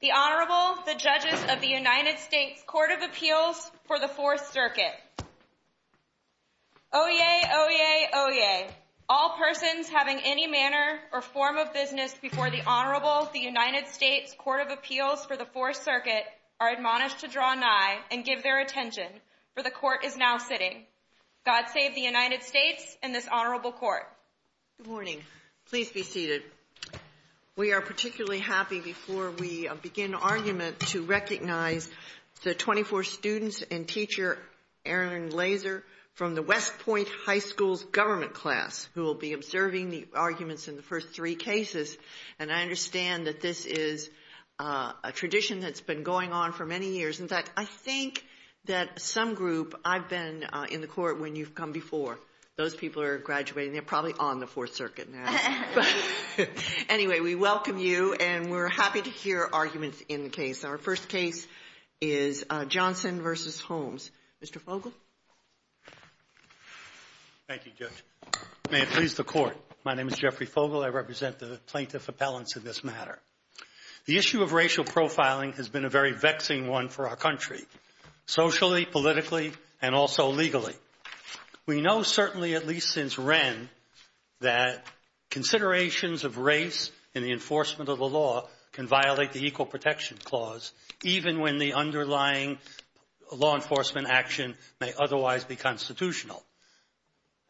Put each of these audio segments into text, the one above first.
The Honorable, the Judges of the United States Court of Appeals for the Fourth Circuit. Oyez, oyez, oyez. All persons having any manner or form of business before the Honorable, the United States Court of Appeals for the Fourth Circuit are admonished to draw nigh and give their attention, for the Court is now sitting. God save the United States and this Honorable Court. Good morning. Please be seated. We are particularly happy, before we begin argument, to recognize the 24 students and teacher, Erin Laser, from the West Point High School's government class, who will be observing the arguments in the first three cases. And I understand that this is a tradition that's been going on for many years. In fact, I think that some group, I've been in the Court when you've come before. Those people are graduating. They're probably on the Fourth Circuit now. Anyway, we welcome you and we're happy to hear arguments in the case. Our first case is Johnson v. Holmes. Mr. Fogle. Thank you, Judge. May it please the Court. My name is Jeffrey Fogle. I represent the plaintiff appellants in this matter. The issue of racial profiling has been a very vexing one for our country, socially, politically, and also legally. We know certainly, at least since Wren, that considerations of race in the enforcement of the law can violate the Equal Protection Clause, even when the underlying law enforcement action may otherwise be constitutional.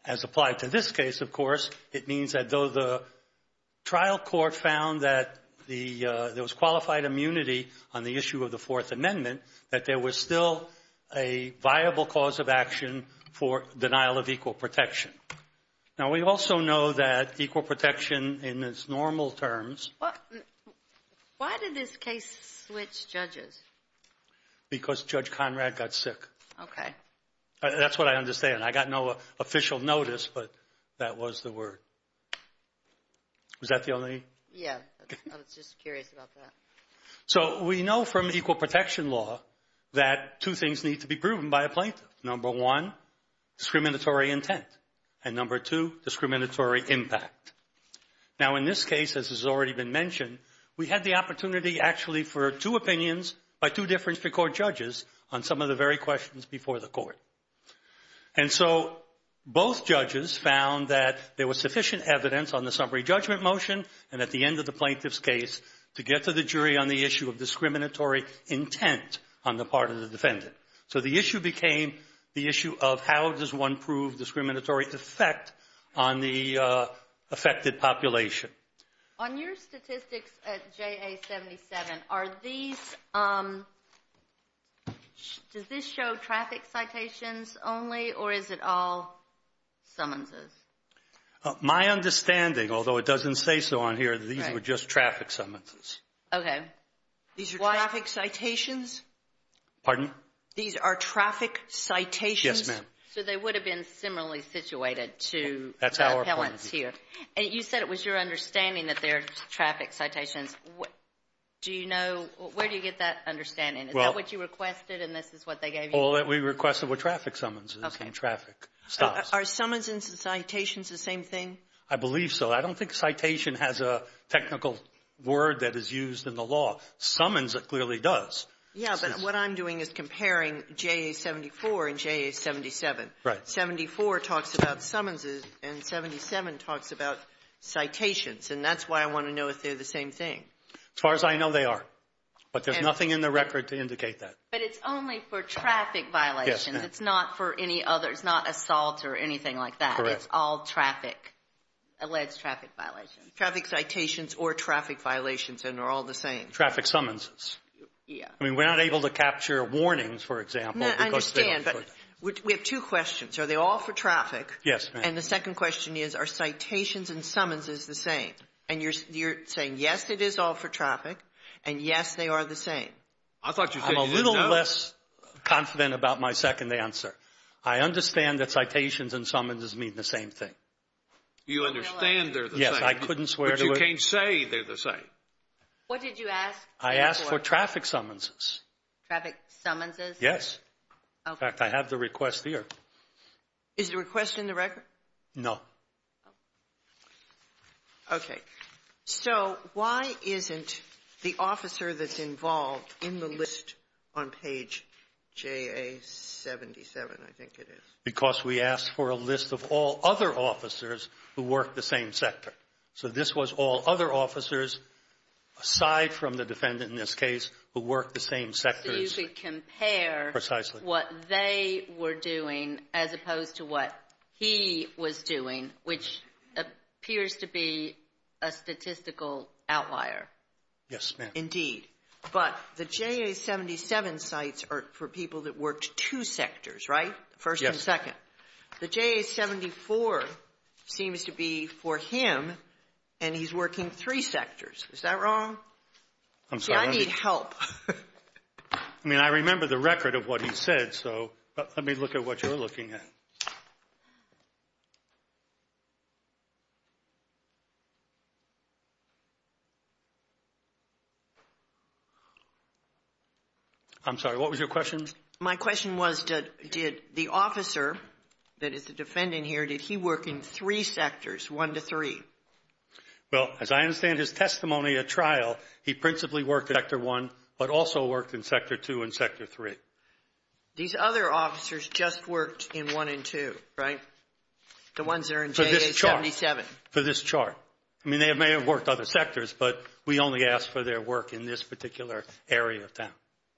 As applied to this case, of course, it means that though the trial court found that there was qualified immunity on the issue of the Fourth Amendment, that there was still a viable cause of action for denial of equal protection. Now, we also know that equal protection in its normal terms... Why did this case switch judges? Because Judge Conrad got sick. Okay. That's what I understand. I got no official notice, but that was the word. Was that the only...? Yeah. I was just curious about that. So, we know from equal protection law that two things need to be proven by a plaintiff. Number one, discriminatory intent. And number two, discriminatory impact. Now, in this case, as has already been mentioned, we had the opportunity actually for two opinions by two Difference to Court judges on some of the very questions before the court. And so, both judges found that there was sufficient evidence on the summary judgment motion and at the end of the plaintiff's case to get to the jury on the issue of discriminatory intent on the part of the defendant. So, the issue became the issue of how does one prove discriminatory effect on the affected population. On your statistics at JA 77, does this show traffic citations only or is it all summonses? My understanding, although it doesn't say so on here, these were just traffic summonses. Okay. These are traffic citations? Pardon? These are traffic citations? Yes, ma'am. So, they would have been similarly situated to the appellants here. That's our point. And you said it was your understanding that they're traffic citations. Do you know — where do you get that understanding? Is that what you requested and this is what they gave you? Well, we requested were traffic summonses and traffic stops. Are summonses and citations the same thing? I believe so. I don't think citation has a technical word that is used in the law. Summons it clearly does. Yeah, but what I'm doing is comparing JA 74 and JA 77. Right. 74 talks about summonses and 77 talks about citations, and that's why I want to know if they're the same thing. As far as I know, they are, but there's nothing in the record to indicate that. But it's only for traffic violations. It's not for any other — it's not assault or anything like that. Correct. It's all traffic, alleged traffic violations. Traffic citations or traffic violations, and they're all the same. Traffic summonses. Yeah. I mean, we're not able to capture warnings, for example. No, I understand, but we have two questions. Are they all for traffic? Yes, ma'am. And the second question is, are citations and summonses the same? And you're saying, yes, it is all for traffic, and yes, they are the same. I thought you said you didn't know. I'm a little less confident about my second answer. I understand that citations and summonses mean the same thing. You understand they're the same. Yes, I couldn't swear to it. But you can't say they're the same. What did you ask for? I asked for traffic summonses. Traffic summonses? Yes. In fact, I have the request here. Is the request in the record? No. Okay. So why isn't the officer that's involved in the list on page JA77, I think it is? Because we asked for a list of all other officers who worked the same sector. So this was all other officers, aside from the defendant in this case, who worked the same sectors. So you could compare what they were doing as opposed to what he was doing, which appears to be a statistical outlier. Yes, ma'am. Indeed. But the JA77 sites are for people that worked two sectors, right? First and second. Yes. The JA74 seems to be for him, and he's working three sectors. Is that wrong? I'm sorry. See, I need help. I mean, I remember the record of what he said, so let me look at what you're looking at. I'm sorry. What was your question? My question was, did the officer that is the defendant here, did he work in three sectors, one to three? Well, as I understand his testimony at trial, he principally worked in sector one, but also worked in sector two and sector three. These other officers just worked in one and two, right? The ones that are in JA77. For this chart. I mean, they may have worked other sectors, but we only asked for their work in this particular area of time.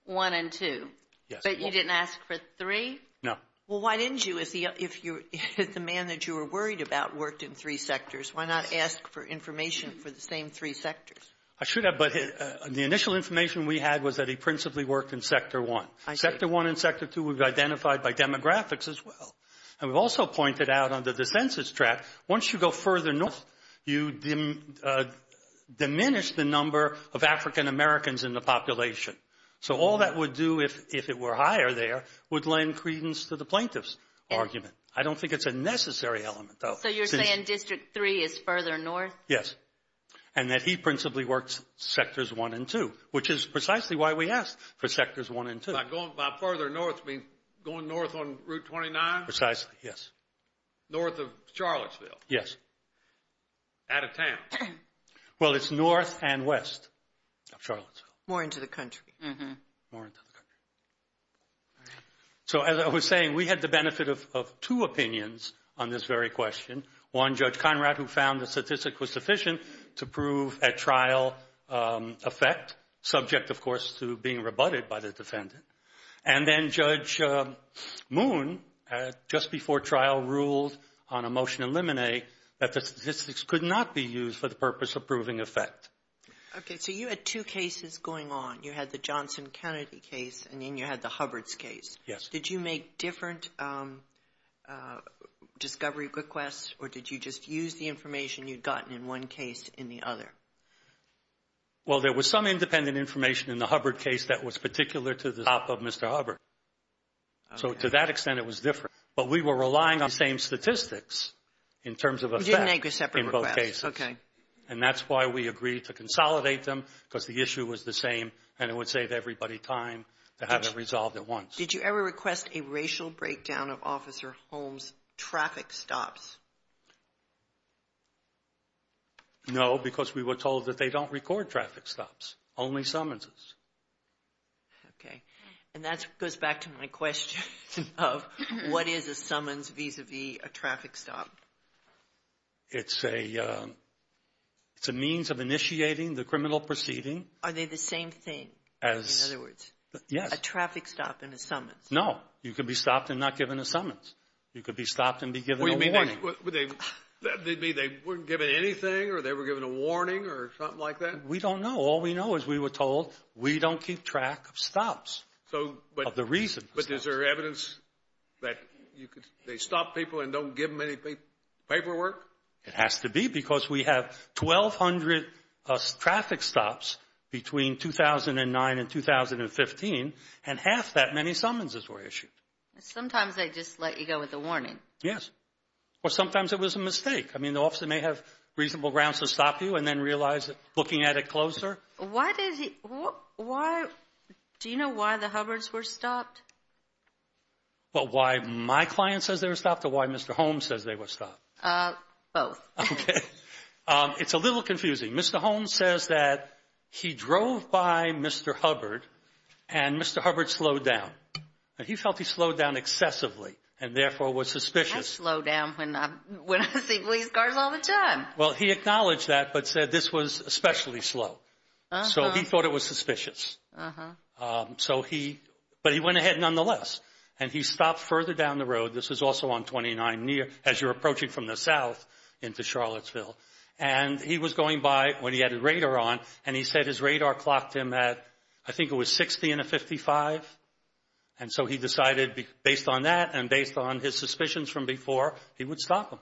One and two. Yes. But you didn't ask for three? No. Well, why didn't you? If the man that you were worried about worked in three sectors, why not ask for information for the same three sectors? I should have, but the initial information we had was that he principally worked in sector one. I see. Sector one and sector two we've identified by demographics as well, and we've also pointed out under the census tract, once you go further north, you diminish the number of African Americans in the population. So all that would do, if it were higher there, would lend credence to the plaintiff's argument. I don't think it's a necessary element, though. So you're saying district three is further north? Yes. And that he principally worked sectors one and two, which is precisely why we asked for sectors one and two. By further north, you mean going north on Route 29? Precisely, yes. North of Charlottesville? Yes. Out of town? Well, it's north and west of Charlottesville. More into the country. More into the country. So as I was saying, we had the benefit of two opinions on this very question. One, Judge Conrad, who found the statistic was sufficient to prove a trial effect, subject, of course, to being rebutted by the defendant. And then Judge Moon, just before trial, ruled on a motion in Limine that the statistics could not be used for the purpose of proving effect. Okay. So you had two cases going on. You had the Johnson-Kennedy case, and then you had the Hubbard's case. Yes. Did you make different discovery requests, or did you just use the information you'd gotten in one case in the other? Well, there was some independent information in the Hubbard case that was particular to the top of Mr. Hubbard. So to that extent, it was different. You didn't make a separate request. Okay. And that's why we agreed to consolidate them, because the issue was the same, and it would save everybody time to have it resolved at once. Did you ever request a racial breakdown of Officer Holmes' traffic stops? No, because we were told that they don't record traffic stops, only summonses. Okay. And that goes back to my question of what is a summons vis-à-vis a traffic stop? It's a means of initiating the criminal proceeding. Are they the same thing, in other words? Yes. A traffic stop and a summons. No. You could be stopped and not given a summons. You could be stopped and be given a warning. Wait a minute. They wouldn't give it anything, or they were given a warning or something like that? We don't know. All we know is we were told we don't keep track of stops, of the reason for stops. Is there evidence that they stop people and don't give them any paperwork? It has to be, because we have 1,200 traffic stops between 2009 and 2015, and half that many summonses were issued. Sometimes they just let you go with a warning. Yes. Or sometimes it was a mistake. I mean, the officer may have reasonable grounds to stop you and then realize, looking at it closer. Do you know why the Hubbards were stopped? Well, why my client says they were stopped or why Mr. Holmes says they were stopped? Both. Okay. It's a little confusing. Mr. Holmes says that he drove by Mr. Hubbard and Mr. Hubbard slowed down. He felt he slowed down excessively and, therefore, was suspicious. I slow down when I see police cars all the time. Well, he acknowledged that but said this was especially slow. So he thought it was suspicious. But he went ahead nonetheless, and he stopped further down the road. This was also on 29 near, as you're approaching from the south into Charlottesville. And he was going by when he had his radar on, and he said his radar clocked him at, I think it was 60 in a 55. And so he decided, based on that and based on his suspicions from before, he would stop him.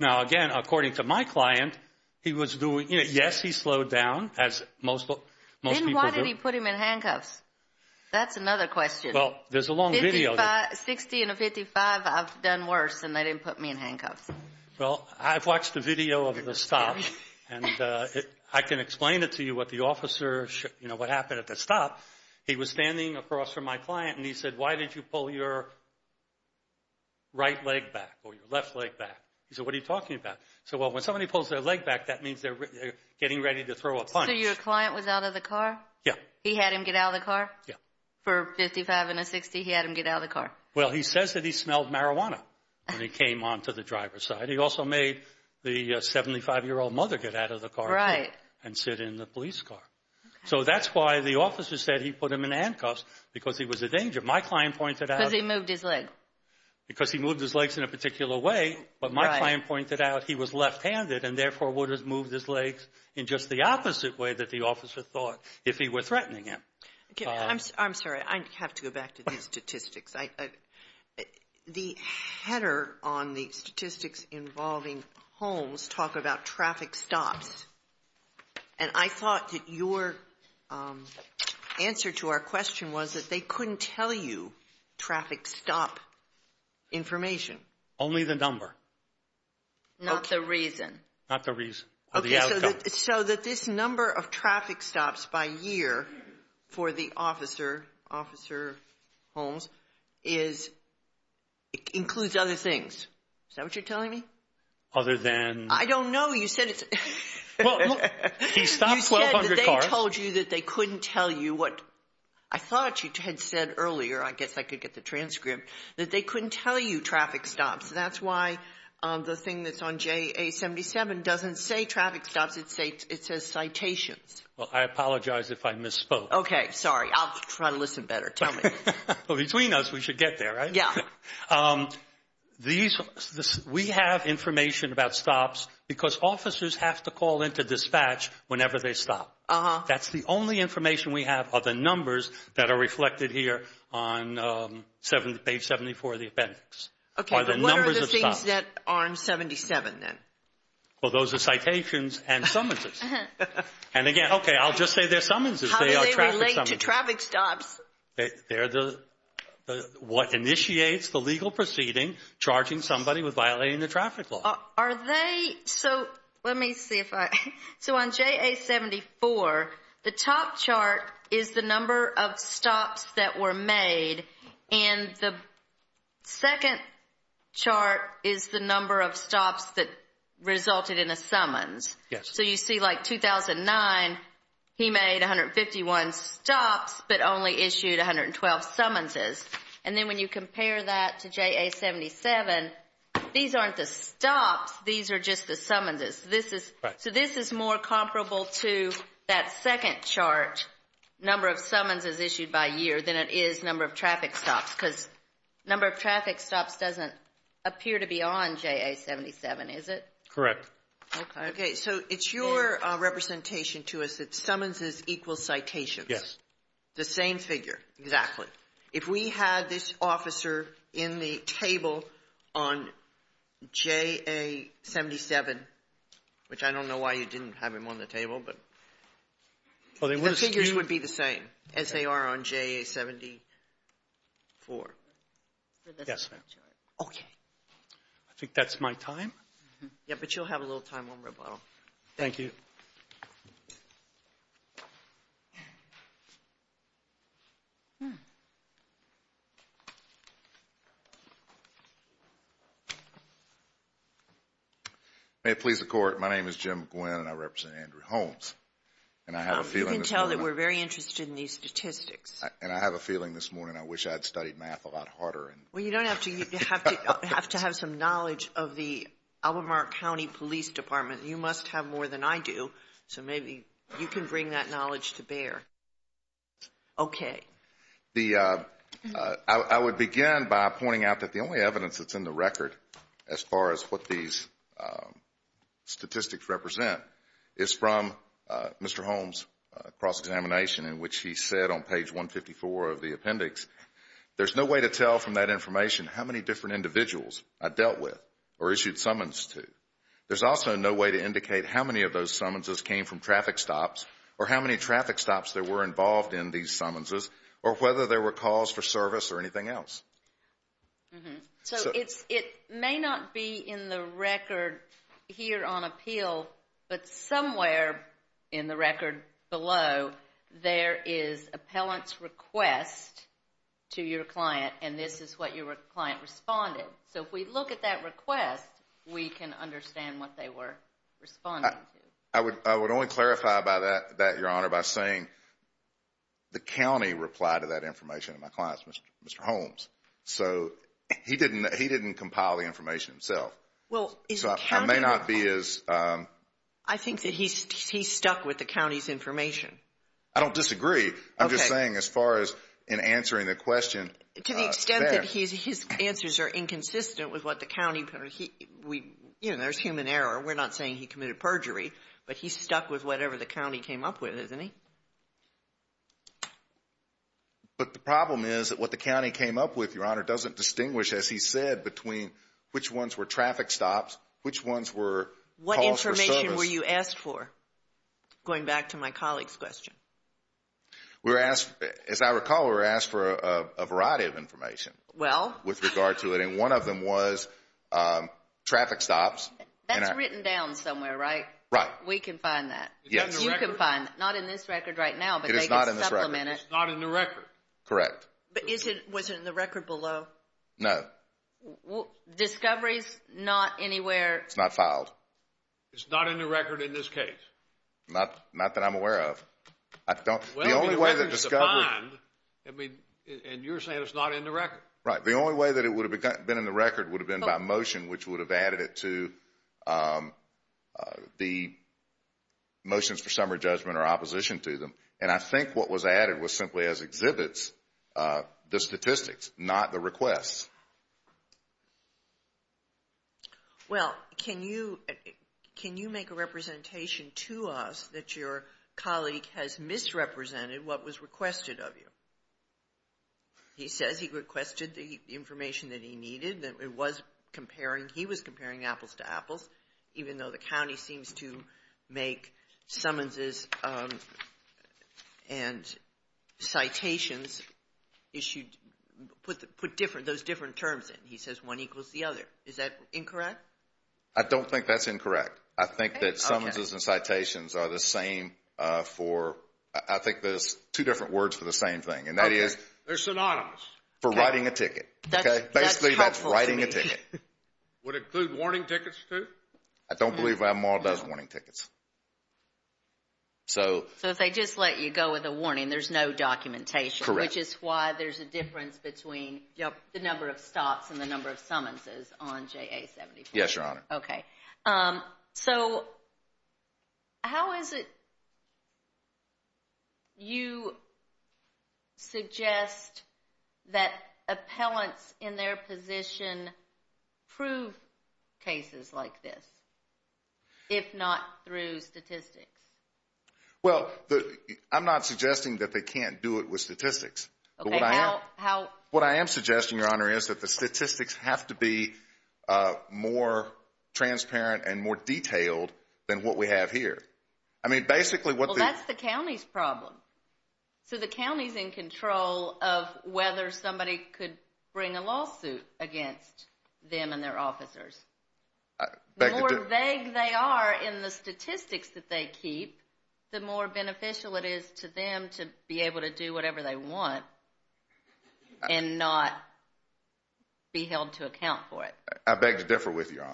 Now, again, according to my client, he was doing it. Yes, he slowed down, as most people do. Then why did he put him in handcuffs? That's another question. Well, there's a long video. 60 in a 55, I've done worse, and they didn't put me in handcuffs. Well, I've watched the video of the stop, and I can explain it to you what the officer, you know, what happened at the stop. He was standing across from my client, and he said, why did you pull your right leg back or your left leg back? He said, what are you talking about? I said, well, when somebody pulls their leg back, that means they're getting ready to throw a punch. So your client was out of the car? Yeah. He had him get out of the car? Yeah. For 55 and a 60, he had him get out of the car? Well, he says that he smelled marijuana when he came onto the driver's side. He also made the 75-year-old mother get out of the car and sit in the police car. So that's why the officer said he put him in handcuffs, because he was a danger. My client pointed out. Because he moved his leg? Because he moved his legs in a particular way. But my client pointed out he was left-handed and therefore would have moved his legs in just the opposite way that the officer thought if he were threatening him. I'm sorry. I have to go back to these statistics. The header on the statistics involving homes talk about traffic stops. And I thought that your answer to our question was that they couldn't tell you traffic stop information. Only the number. Not the reason. Not the reason or the outcome. So that this number of traffic stops by year for the officer, Officer Holmes, is – includes other things. Is that what you're telling me? Other than – I don't know. You said it's – He stopped 1,200 cars. You said that they told you that they couldn't tell you what – I thought you had said earlier. I guess I could get the transcript. That they couldn't tell you traffic stops. That's why the thing that's on JA-77 doesn't say traffic stops. It says citations. Well, I apologize if I misspoke. Okay. Sorry. I'll try to listen better. Tell me. Between us, we should get there, right? Yeah. These – we have information about stops because officers have to call into dispatch whenever they stop. That's the only information we have are the numbers that are reflected here on page 74 of the appendix. Okay. But what are the things that are on 77 then? Well, those are citations and summonses. And, again, okay, I'll just say they're summonses. They are traffic summonses. How do they relate to traffic stops? They're the – what initiates the legal proceeding charging somebody with violating the traffic law. Are they – so let me see if I – so on JA-74, the top chart is the number of stops that were made. And the second chart is the number of stops that resulted in a summons. Yes. So you see, like, 2009, he made 151 stops but only issued 112 summonses. And then when you compare that to JA-77, these aren't the stops. These are just the summonses. So this is more comparable to that second chart, number of summonses issued by year, than it is number of traffic stops because number of traffic stops doesn't appear to be on JA-77, is it? Correct. Okay. So it's your representation to us that summonses equal citations. Yes. The same figure. Exactly. So if we had this officer in the table on JA-77, which I don't know why you didn't have him on the table, but the figures would be the same as they are on JA-74. Yes, ma'am. Okay. I think that's my time. Yeah, but you'll have a little time on rebuttal. Thank you. May it please the Court, my name is Jim Gwinn and I represent Andrew Holmes. You can tell that we're very interested in these statistics. And I have a feeling this morning I wish I had studied math a lot harder. Well, you don't have to. You have to have some knowledge of the Albemarle County Police Department. You must have more than I do, so maybe you can bring that knowledge to bear. Okay. I would begin by pointing out that the only evidence that's in the record as far as what these statistics represent is from Mr. Holmes' cross-examination in which he said on page 154 of the appendix, there's no way to tell from that information how many different individuals I dealt with or issued summons to. There's also no way to indicate how many of those summonses came from traffic stops or how many traffic stops there were involved in these summonses or whether there were calls for service or anything else. So it may not be in the record here on appeal, but somewhere in the record below, there is appellant's request to your client and this is what your client responded. So if we look at that request, we can understand what they were responding to. I would only clarify by that, Your Honor, by saying the county replied to that information in my client's, Mr. Holmes. So he didn't compile the information himself. So it may not be as... I think that he stuck with the county's information. I don't disagree. I'm just saying as far as in answering the question... To the extent that his answers are inconsistent with what the county... But he's stuck with whatever the county came up with, isn't he? But the problem is that what the county came up with, Your Honor, doesn't distinguish, as he said, between which ones were traffic stops, which ones were calls for service. What information were you asked for? Going back to my colleague's question. As I recall, we were asked for a variety of information. Well... With regard to it, and one of them was traffic stops. That's written down somewhere, right? Right. We can find that. You can find it. Not in this record right now, but they can supplement it. It is not in this record. It's not in the record? Correct. But was it in the record below? No. Discovery's not anywhere... It's not filed. It's not in the record in this case? Not that I'm aware of. The only way that Discovery... And you're saying it's not in the record? Right. The only way that it would have been in the record would have been by motion, which would have added it to the motions for summary judgment or opposition to them. And I think what was added was simply as exhibits, the statistics, not the requests. Well, can you make a representation to us that your colleague has misrepresented what was requested of you? He says he requested the information that he needed. He was comparing apples to apples, even though the county seems to make summonses and citations put those different terms in. He says one equals the other. Is that incorrect? I don't think that's incorrect. I think that summonses and citations are the same for... It's two different words for the same thing, and that is... They're synonymous. For writing a ticket. That's helpful to me. Basically, that's writing a ticket. Would it include warning tickets, too? I don't believe Avonmaw does warning tickets. So if they just let you go with a warning, there's no documentation. Correct. Which is why there's a difference between the number of stops and the number of summonses on JA-74. Yes, Your Honor. Okay. So how is it you suggest that appellants in their position prove cases like this if not through statistics? Well, I'm not suggesting that they can't do it with statistics. What I am suggesting, Your Honor, is that the statistics have to be more transparent and more detailed than what we have here. I mean, basically what the... Well, that's the county's problem. So the county's in control of whether somebody could bring a lawsuit against them and their officers. The more vague they are in the statistics that they keep, the more beneficial it is to them to be able to do whatever they want and not be held to account for it. I beg to differ with you, Your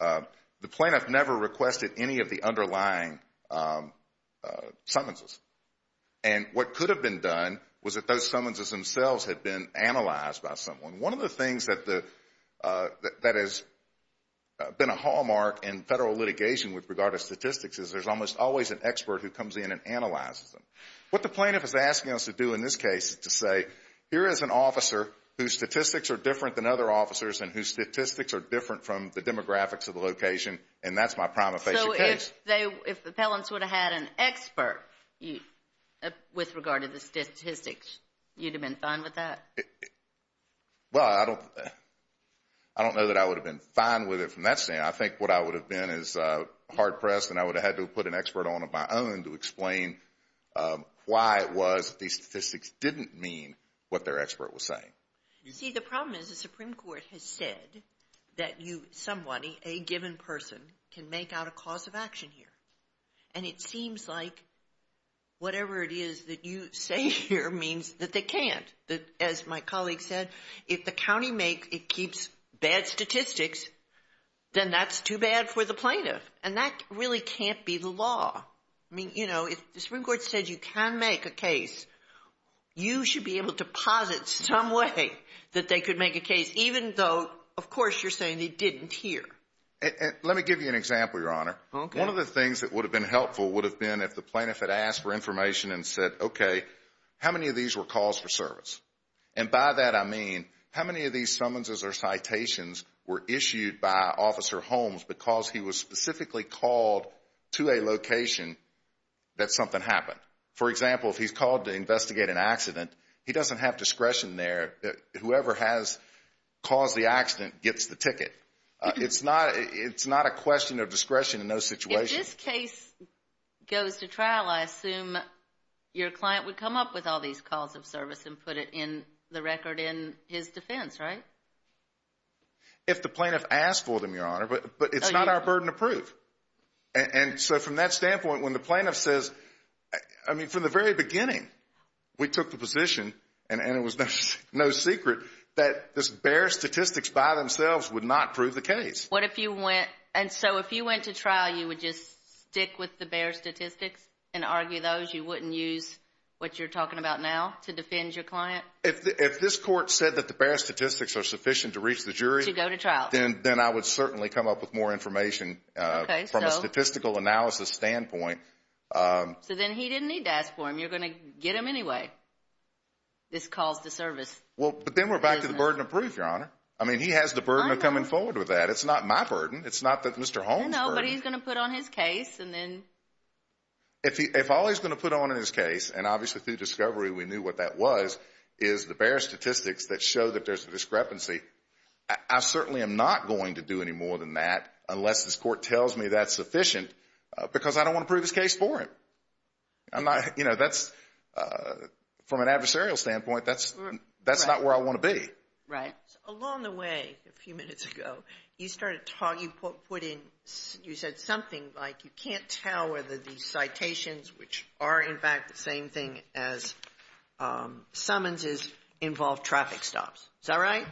Honor. The plaintiff never requested any of the underlying summonses. And what could have been done was that those summonses themselves had been analyzed by someone. One of the things that has been a hallmark in federal litigation with regard to statistics is there's almost always an expert who comes in and analyzes them. What the plaintiff is asking us to do in this case is to say, here is an officer whose statistics are different than other officers and whose statistics are different from the demographics of the location, and that's my prima facie case. If appellants would have had an expert with regard to the statistics, you'd have been fine with that? Well, I don't know that I would have been fine with it from that standpoint. I think what I would have been is hard-pressed and I would have had to put an expert on of my own to explain why it was that these statistics didn't mean what their expert was saying. See, the problem is the Supreme Court has said that somebody, a given person, can make out a cause of action here. And it seems like whatever it is that you say here means that they can't. As my colleague said, if the county keeps bad statistics, then that's too bad for the plaintiff. And that really can't be the law. I mean, you know, if the Supreme Court said you can make a case, you should be able to posit some way that they could make a case, even though, of course, you're saying they didn't here. Let me give you an example, Your Honor. One of the things that would have been helpful would have been if the plaintiff had asked for information and said, okay, how many of these were calls for service? And by that I mean, how many of these summonses or citations were issued by Officer Holmes because he was specifically called to a location that something happened? For example, if he's called to investigate an accident, he doesn't have discretion there. Whoever has caused the accident gets the ticket. It's not a question of discretion in those situations. If this case goes to trial, I assume your client would come up with all these calls of service and put it in the record in his defense, right? If the plaintiff asked for them, Your Honor, but it's not our burden to prove. And so from that standpoint, when the plaintiff says, I mean, from the very beginning, we took the position, and it was no secret, that this bare statistics by themselves would not prove the case. And so if you went to trial, you would just stick with the bare statistics and argue those? You wouldn't use what you're talking about now to defend your client? If this court said that the bare statistics are sufficient to reach the jury, then I would certainly come up with more information from a statistical analysis standpoint. So then he didn't need to ask for them. You're going to get them anyway. This calls to service. I mean, he has the burden of coming forward with that. It's not my burden. It's not that Mr. Holmes' burden. No, but he's going to put on his case, and then… If all he's going to put on in his case, and obviously through discovery we knew what that was, is the bare statistics that show that there's a discrepancy, I certainly am not going to do any more than that unless this court tells me that's sufficient, because I don't want to prove his case for him. I'm not, you know, that's, from an adversarial standpoint, that's not where I want to be. Right. Along the way, a few minutes ago, you started talking, you put in, you said something like you can't tell whether these citations, which are in fact the same thing as summonses, involve traffic stops. Is that right?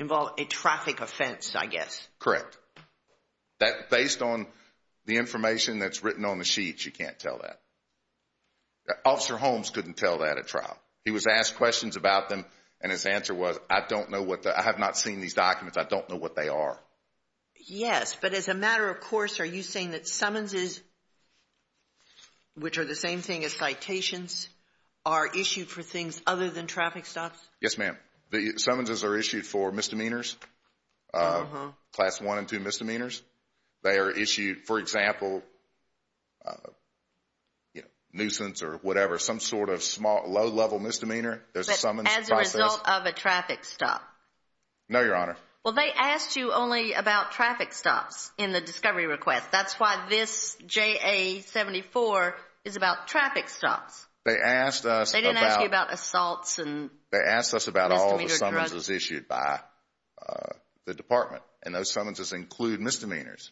Involve a traffic offense, I guess. Correct. That, based on the information that's written on the sheets, you can't tell that. Officer Holmes couldn't tell that at trial. He was asked questions about them, and his answer was, I don't know what the, I have not seen these documents, I don't know what they are. Yes, but as a matter of course, are you saying that summonses, which are the same thing as citations, are issued for things other than traffic stops? Yes, ma'am. The summonses are issued for misdemeanors, Class I and II misdemeanors. They are issued, for example, nuisance or whatever, some sort of low-level misdemeanor. But as a result of a traffic stop? No, Your Honor. Well, they asked you only about traffic stops in the discovery request. That's why this JA-74 is about traffic stops. They asked us about all the summonses issued by the Department, and those summonses include misdemeanors.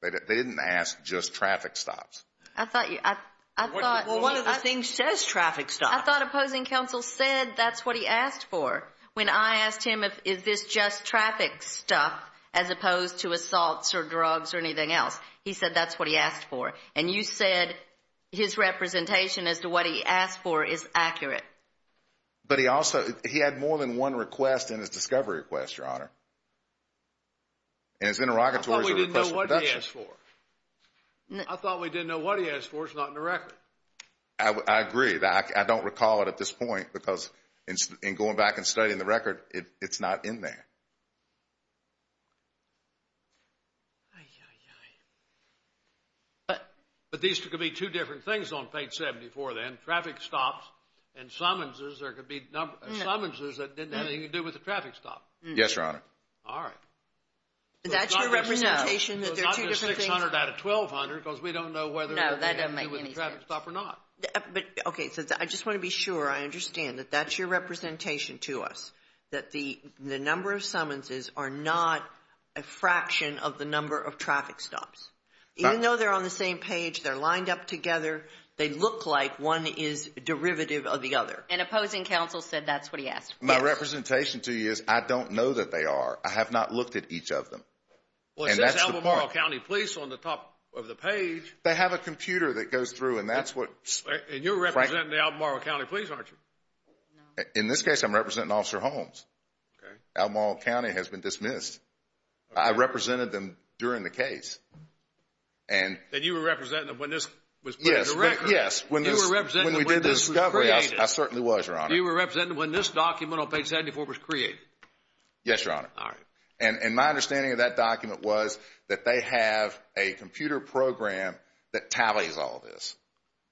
They didn't ask just traffic stops. I thought you, I thought. Well, one of the things says traffic stops. I thought opposing counsel said that's what he asked for when I asked him is this just traffic stuff as opposed to assaults or drugs or anything else. He said that's what he asked for. And you said his representation as to what he asked for is accurate. But he also, he had more than one request in his discovery request, Your Honor. And his interrogatory is a request for production. I thought we didn't know what he asked for. I thought we didn't know what he asked for. It's not in the record. I agree. I don't recall it at this point because in going back and studying the record, it's not in there. But these could be two different things on page 74 then, traffic stops and summonses. There could be summonses that didn't have anything to do with the traffic stop. Yes, Your Honor. All right. That's your representation that there are two different things? It's not just 600 out of 1,200 because we don't know whether it had to do with the traffic stop or not. No, that doesn't make any sense. But, okay, I just want to be sure I understand that that's your representation to us, that the number of summonses are not a fraction of the number of traffic stops. Even though they're on the same page, they're lined up together, they look like one is derivative of the other. And opposing counsel said that's what he asked for. My representation to you is I don't know that they are. I have not looked at each of them. Well, it says Albemarle County Police on the top of the page. They have a computer that goes through and that's what. And you're representing the Albemarle County Police, aren't you? In this case, I'm representing Officer Holmes. Okay. Albemarle County has been dismissed. I represented them during the case. And you were representing them when this was put in the record? Yes, when we did this discovery, I certainly was, Your Honor. You were representing them when this document on page 74 was created? Yes, Your Honor. All right. And my understanding of that document was that they have a computer program that tallies all this.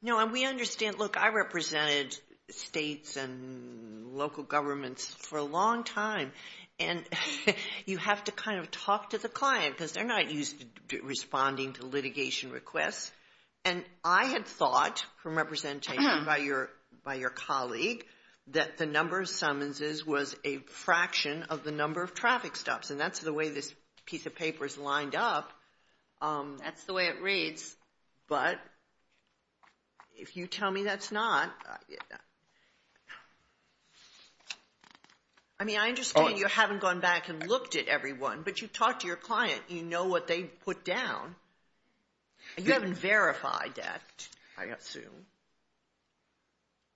No, and we understand. Look, I represented states and local governments for a long time. And you have to kind of talk to the client because they're not used to responding to litigation requests. And I had thought from representation by your colleague that the number of summonses was a fraction of the number of traffic stops. And that's the way this piece of paper is lined up. That's the way it reads. But if you tell me that's not. I mean, I understand you haven't gone back and looked at everyone. But you talked to your client. You know what they put down. You haven't verified that, I assume.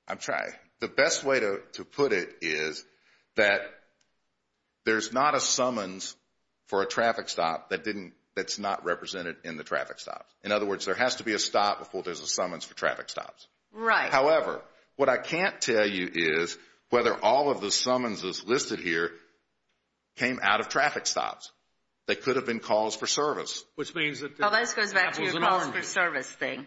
I'm trying. Okay. The best way to put it is that there's not a summons for a traffic stop that's not represented in the traffic stops. In other words, there has to be a stop before there's a summons for traffic stops. Right. However, what I can't tell you is whether all of the summonses listed here came out of traffic stops. They could have been calls for service. Oh, that goes back to your calls for service thing.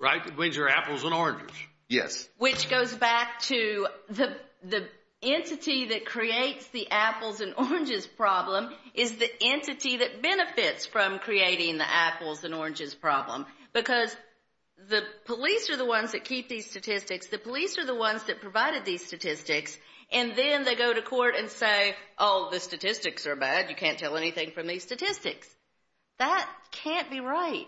Right, which are apples and oranges. Yes. Which goes back to the entity that creates the apples and oranges problem is the entity that benefits from creating the apples and oranges problem. Because the police are the ones that keep these statistics. The police are the ones that provided these statistics. And then they go to court and say, oh, the statistics are bad. You can't tell anything from these statistics. That can't be right.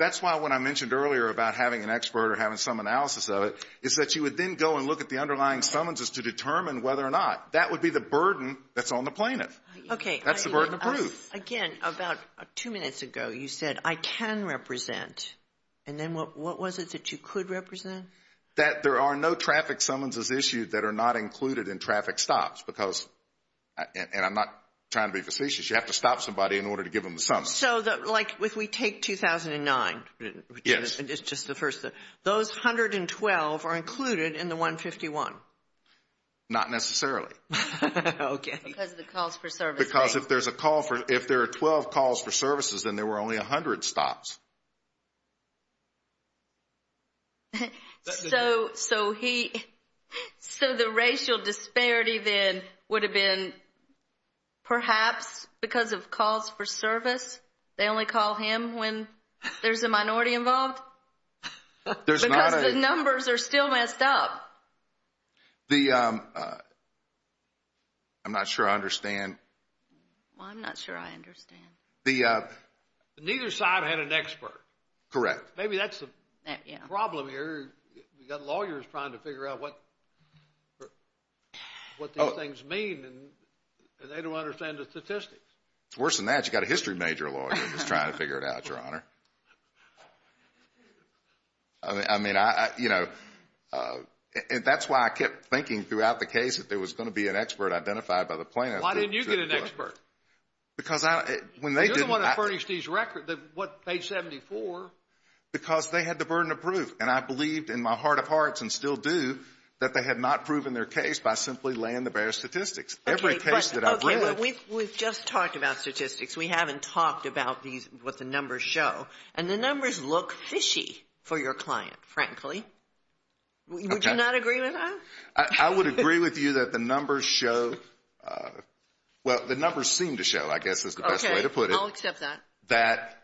That's why when I mentioned earlier about having an expert or having some analysis of it, is that you would then go and look at the underlying summonses to determine whether or not. That would be the burden that's on the plaintiff. Okay. That's the burden of proof. Again, about two minutes ago you said, I can represent. And then what was it that you could represent? That there are no traffic summonses issued that are not included in traffic stops. Because, and I'm not trying to be facetious, you have to stop somebody in order to give them the summons. So, like, if we take 2009. Yes. It's just the first. Those 112 are included in the 151. Not necessarily. Okay. Because of the calls for service rate. Because if there's a call for, if there are 12 calls for services, then there were only 100 stops. So he, so the racial disparity then would have been perhaps because of calls for service? They only call him when there's a minority involved? Because the numbers are still messed up. The, I'm not sure I understand. Well, I'm not sure I understand. Neither side had an expert. Correct. Maybe that's the problem here. We've got lawyers trying to figure out what these things mean, and they don't understand the statistics. It's worse than that. You've got a history major lawyer that's trying to figure it out, Your Honor. I mean, you know, that's why I kept thinking throughout the case that there was going to be an expert identified by the plaintiffs. Why didn't you get an expert? Because I, when they didn't. You're the one that furnished these records, what, page 74? Because they had the burden of proof, and I believed in my heart of hearts and still do that they had not proven their case by simply laying the bare statistics. Every case that I've read. Okay, but we've just talked about statistics. We haven't talked about these, what the numbers show. And the numbers look fishy for your client, frankly. Would you not agree with that? I would agree with you that the numbers show, well, the numbers seem to show, I guess is the best way to put it. Okay, I'll accept that. That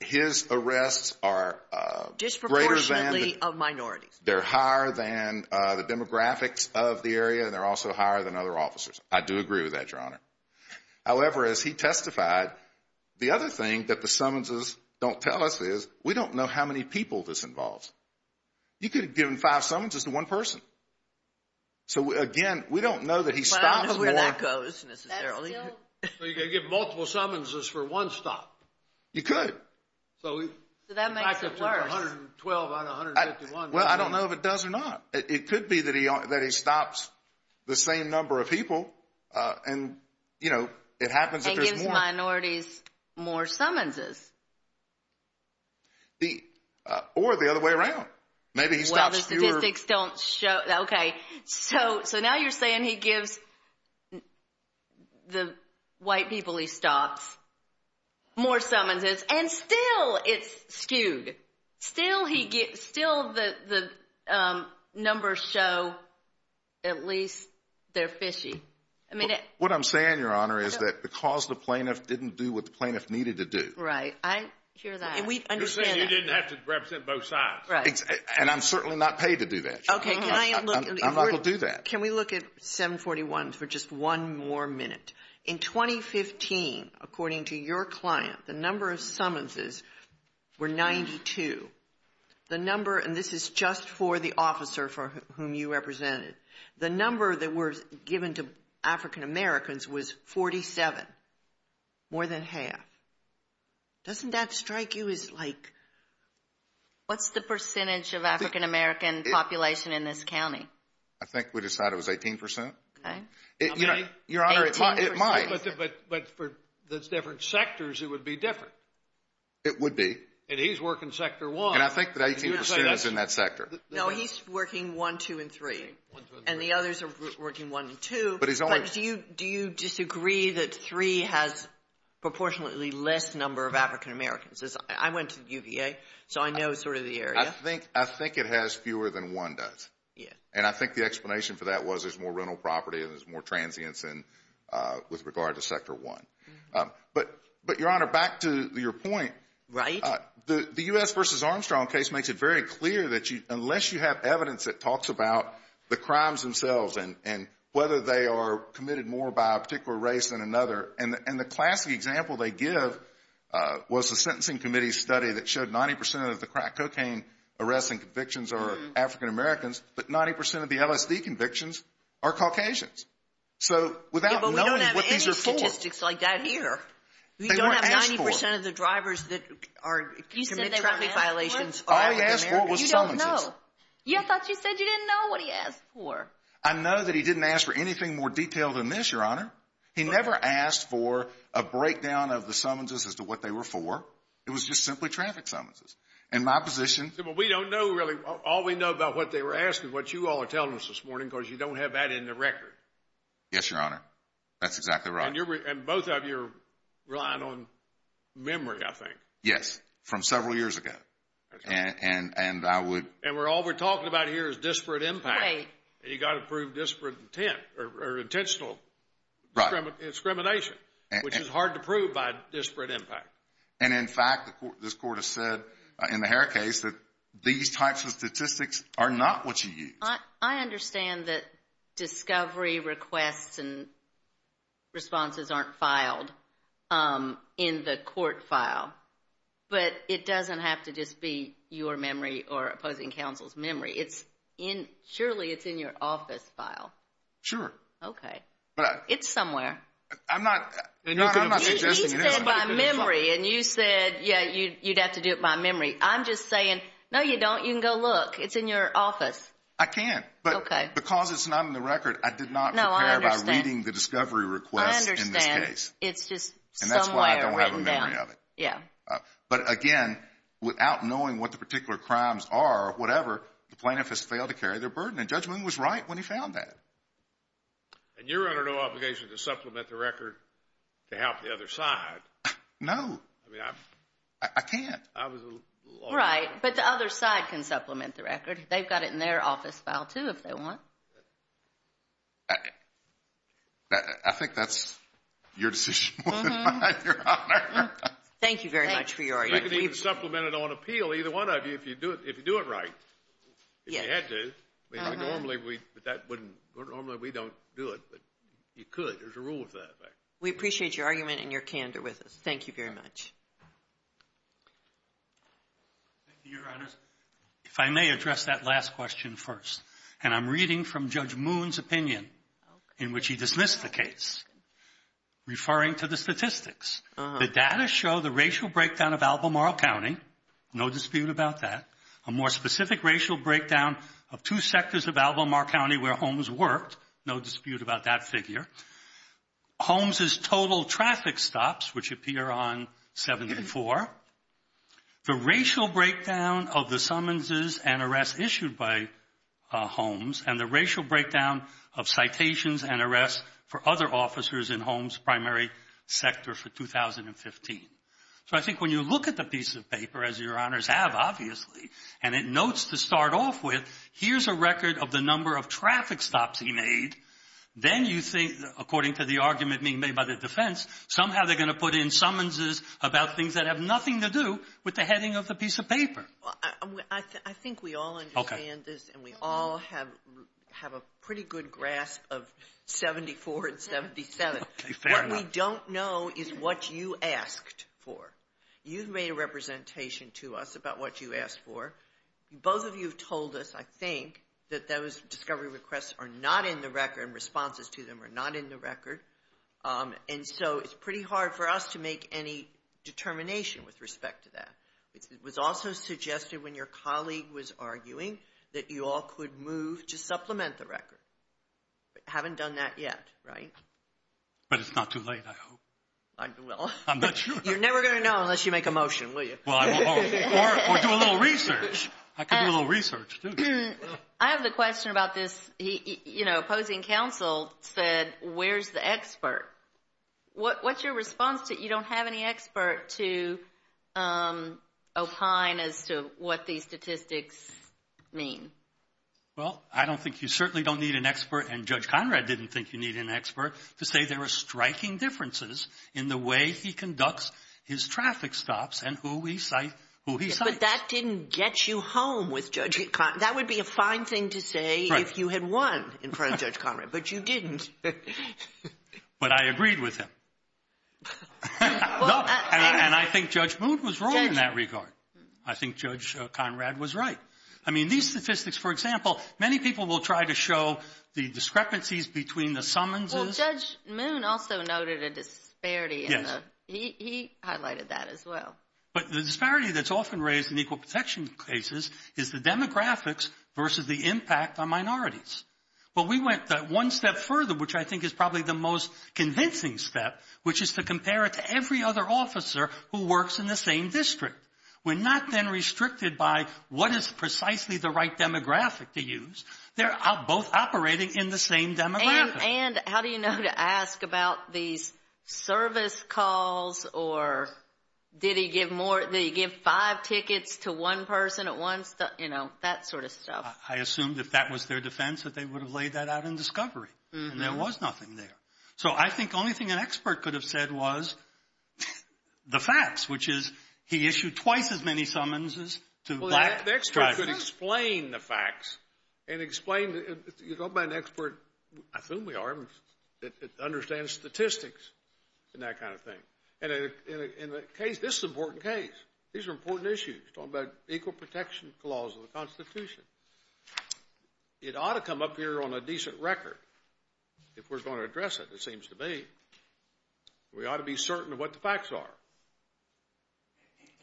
his arrests are greater than. Disproportionately of minorities. They're higher than the demographics of the area, and they're also higher than other officers. I do agree with that, Your Honor. However, as he testified, the other thing that the summonses don't tell us is we don't know how many people this involves. You could have given five summonses to one person. So, again, we don't know that he stops more. I don't know where that goes, necessarily. So you could give multiple summonses for one stop. You could. So that makes it worse. 112 out of 151. Well, I don't know if it does or not. It could be that he stops the same number of people, and, you know, it happens if there's more. And gives minorities more summonses. Or the other way around. Maybe he stops fewer. Well, the statistics don't show. Okay, so now you're saying he gives the white people he stops more summonses, and still it's skewed. Still the numbers show at least they're fishy. What I'm saying, Your Honor, is that the cause of the plaintiff didn't do what the plaintiff needed to do. Right. I hear that. And we understand that. You're saying you didn't have to represent both sides. Right. And I'm certainly not paid to do that, Your Honor. I'm not going to do that. Can we look at 741 for just one more minute? In 2015, according to your client, the number of summonses were 92. The number, and this is just for the officer for whom you represented, the number that was given to African-Americans was 47, more than half. Doesn't that strike you as like? What's the percentage of African-American population in this county? I think we decided it was 18%. Okay. Your Honor, it might. But for the different sectors, it would be different. It would be. And he's working sector one. And I think that 18% is in that sector. No, he's working one, two, and three. And the others are working one and two. But do you disagree that three has proportionately less number of African-Americans? I went to UVA, so I know sort of the area. I think it has fewer than one does. And I think the explanation for that was there's more rental property and there's more transients with regard to sector one. But, Your Honor, back to your point. Right. The U.S. v. Armstrong case makes it very clear that unless you have evidence that talks about the crimes themselves and whether they are committed more by a particular race than another. And the classic example they give was a sentencing committee study that showed 90% of the crack cocaine arrests and convictions are African-Americans, but 90% of the LSD convictions are Caucasians. So without knowing what these are for. Yeah, but we don't have any statistics like that here. They weren't asked for. We don't have 90% of the drivers that commit traffic violations are African-Americans. All he asked for was summonses. No. I thought you said you didn't know what he asked for. I know that he didn't ask for anything more detailed than this, Your Honor. He never asked for a breakdown of the summonses as to what they were for. It was just simply traffic summonses. In my position. But we don't know really. All we know about what they were asking, what you all are telling us this morning, because you don't have that in the record. Yes, Your Honor. That's exactly right. And both of you are relying on memory, I think. Yes, from several years ago. And I would. And all we're talking about here is disparate impact. Wait. And you've got to prove disparate intent or intentional discrimination, which is hard to prove by disparate impact. And, in fact, this Court has said in the Hare case that these types of statistics are not what you used. I understand that discovery requests and responses aren't filed in the court file. But it doesn't have to just be your memory or opposing counsel's memory. Surely it's in your office file. Sure. Okay. It's somewhere. I'm not suggesting it is. He said by memory, and you said, yeah, you'd have to do it by memory. I'm just saying, no, you don't. You can go look. It's in your office. I can't. But because it's not in the record, I did not prepare by reading the discovery requests in this case. I understand. It's just somewhere written down. Yeah. But, again, without knowing what the particular crimes are or whatever, the plaintiff has failed to carry their burden. And Judge Moon was right when he found that. And you're under no obligation to supplement the record to help the other side. No. I can't. Right. But the other side can supplement the record. They've got it in their office file, too, if they want. I think that's your decision, Your Honor. Thank you very much for your argument. You can even supplement it on appeal, either one of you, if you do it right. Yes. If you had to. Normally we don't do it, but you could. There's a rule with that. We appreciate your argument and your candor with us. Thank you very much. Thank you, Your Honor. If I may address that last question first. And I'm reading from Judge Moon's opinion in which he dismissed the case, referring to the statistics. The data show the racial breakdown of Albemarle County. No dispute about that. A more specific racial breakdown of two sectors of Albemarle County where Holmes worked. No dispute about that figure. Holmes' total traffic stops, which appear on 74. The racial breakdown of the summonses and arrests issued by Holmes. And the racial breakdown of citations and arrests for other officers in Holmes' primary sector for 2015. So I think when you look at the piece of paper, as Your Honors have, obviously, and it notes to start off with, here's a record of the number of traffic stops he made. Then you think, according to the argument being made by the defense, somehow they're going to put in summonses about things that have nothing to do with the heading of the piece of paper. I think we all understand this and we all have a pretty good grasp of 74 and 77. What we don't know is what you asked for. You've made a representation to us about what you asked for. Both of you have told us, I think, that those discovery requests are not in the record and responses to them are not in the record. And so it's pretty hard for us to make any determination with respect to that. It was also suggested when your colleague was arguing that you all could move to supplement the record. But you haven't done that yet, right? But it's not too late, I hope. I'm not sure. You're never going to know unless you make a motion, will you? Or do a little research. I could do a little research, too. I have a question about this. Opposing counsel said, where's the expert? What's your response to you don't have any expert to opine as to what these statistics mean? Well, I don't think you certainly don't need an expert, and Judge Conrad didn't think you needed an expert, to say there are striking differences in the way he conducts his traffic stops and who he cites. But that didn't get you home with Judge Conrad. That would be a fine thing to say if you had won in front of Judge Conrad, but you didn't. But I agreed with him. And I think Judge Moon was wrong in that regard. I think Judge Conrad was right. I mean, these statistics, for example, many people will try to show the discrepancies between the summonses. Well, Judge Moon also noted a disparity. He highlighted that as well. But the disparity that's often raised in equal protection cases is the demographics versus the impact on minorities. Well, we went one step further, which I think is probably the most convincing step, which is to compare it to every other officer who works in the same district. We're not then restricted by what is precisely the right demographic to use. They're both operating in the same demographic. And how do you know to ask about these service calls or did he give five tickets to one person at once? You know, that sort of stuff. I assumed if that was their defense that they would have laid that out in discovery. And there was nothing there. So I think the only thing an expert could have said was the facts, which is he issued twice as many summonses to black drivers. The experts could explain the facts and explain it. You don't buy an expert. I assume we are. It understands statistics and that kind of thing. And in the case, this is an important case. These are important issues. It's talking about equal protection clause of the Constitution. It ought to come up here on a decent record if we're going to address it, it seems to me. We ought to be certain of what the facts are.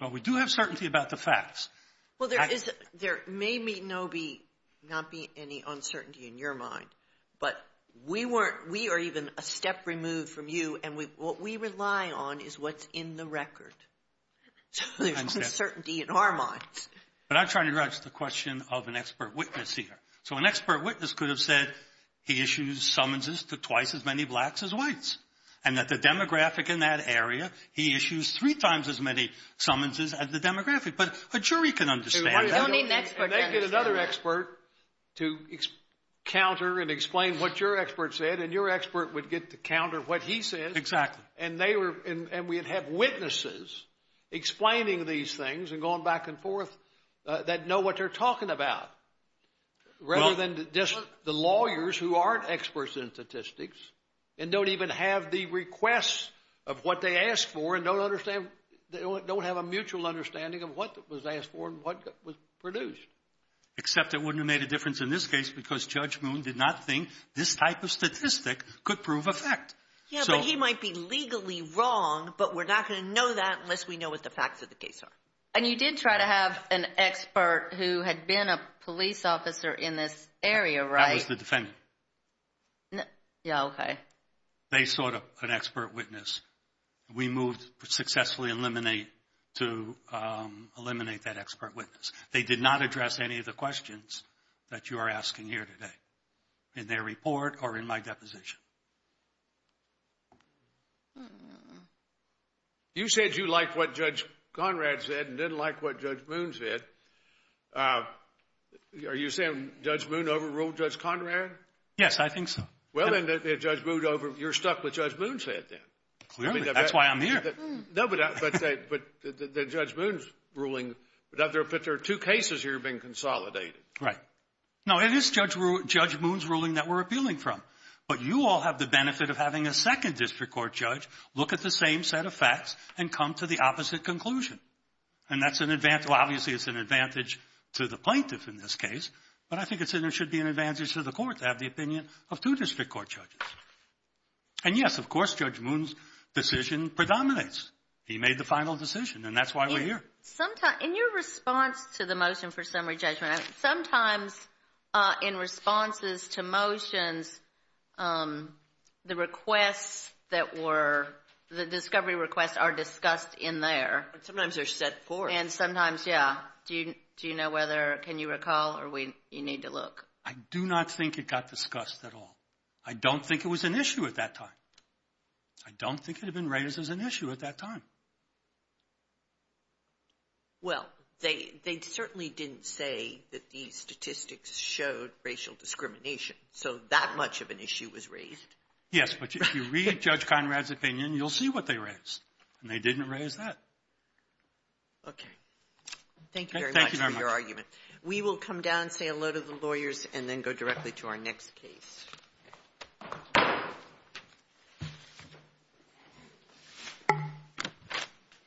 Well, we do have certainty about the facts. Well, there may not be any uncertainty in your mind, but we are even a step removed from you. And what we rely on is what's in the record. So there's uncertainty in our minds. But I'm trying to address the question of an expert witness here. So an expert witness could have said he issued summonses to twice as many blacks as whites. And that the demographic in that area, he issues three times as many summonses as the demographic. But a jury can understand that. You don't need an expert to understand that. And they get another expert to counter and explain what your expert said. And your expert would get to counter what he says. Exactly. And they were – and we'd have witnesses explaining these things and going back and forth that know what they're talking about. Rather than just the lawyers who aren't experts in statistics and don't even have the requests of what they asked for and don't understand – don't have a mutual understanding of what was asked for and what was produced. Except it wouldn't have made a difference in this case because Judge Moon did not think this type of statistic could prove a fact. Yeah, but he might be legally wrong, but we're not going to know that unless we know what the facts of the case are. And you did try to have an expert who had been a police officer in this area, right? That was the defendant. Yeah, okay. They sought an expert witness. We moved successfully to eliminate that expert witness. They did not address any of the questions that you are asking here today in their report or in my deposition. You said you liked what Judge Conrad said and didn't like what Judge Moon said. Are you saying Judge Moon overruled Judge Conrad? Yes, I think so. Well, then Judge Moon over – you're stuck with Judge Moon's head then. Clearly. That's why I'm here. No, but the Judge Moon's ruling – but there are two cases here being consolidated. Right. No, it is Judge Moon's ruling that we're appealing from. But you all have the benefit of having a second district court judge look at the same set of facts and come to the opposite conclusion. And that's an – well, obviously it's an advantage to the plaintiff in this case, but I think it should be an advantage to the court to have the opinion of two district court judges. And, yes, of course, Judge Moon's decision predominates. He made the final decision, and that's why we're here. In your response to the motion for summary judgment, sometimes in responses to motions, the requests that were – the discovery requests are discussed in there. Sometimes they're set forth. And sometimes, yeah. Do you know whether – can you recall, or you need to look? I do not think it got discussed at all. I don't think it was an issue at that time. I don't think it had been raised as an issue at that time. Well, they certainly didn't say that these statistics showed racial discrimination. So that much of an issue was raised. Yes, but if you read Judge Conrad's opinion, you'll see what they raised. And they didn't raise that. Okay. Thank you very much for your argument. Thank you very much. We will come down, say hello to the lawyers, and then go directly to our next case.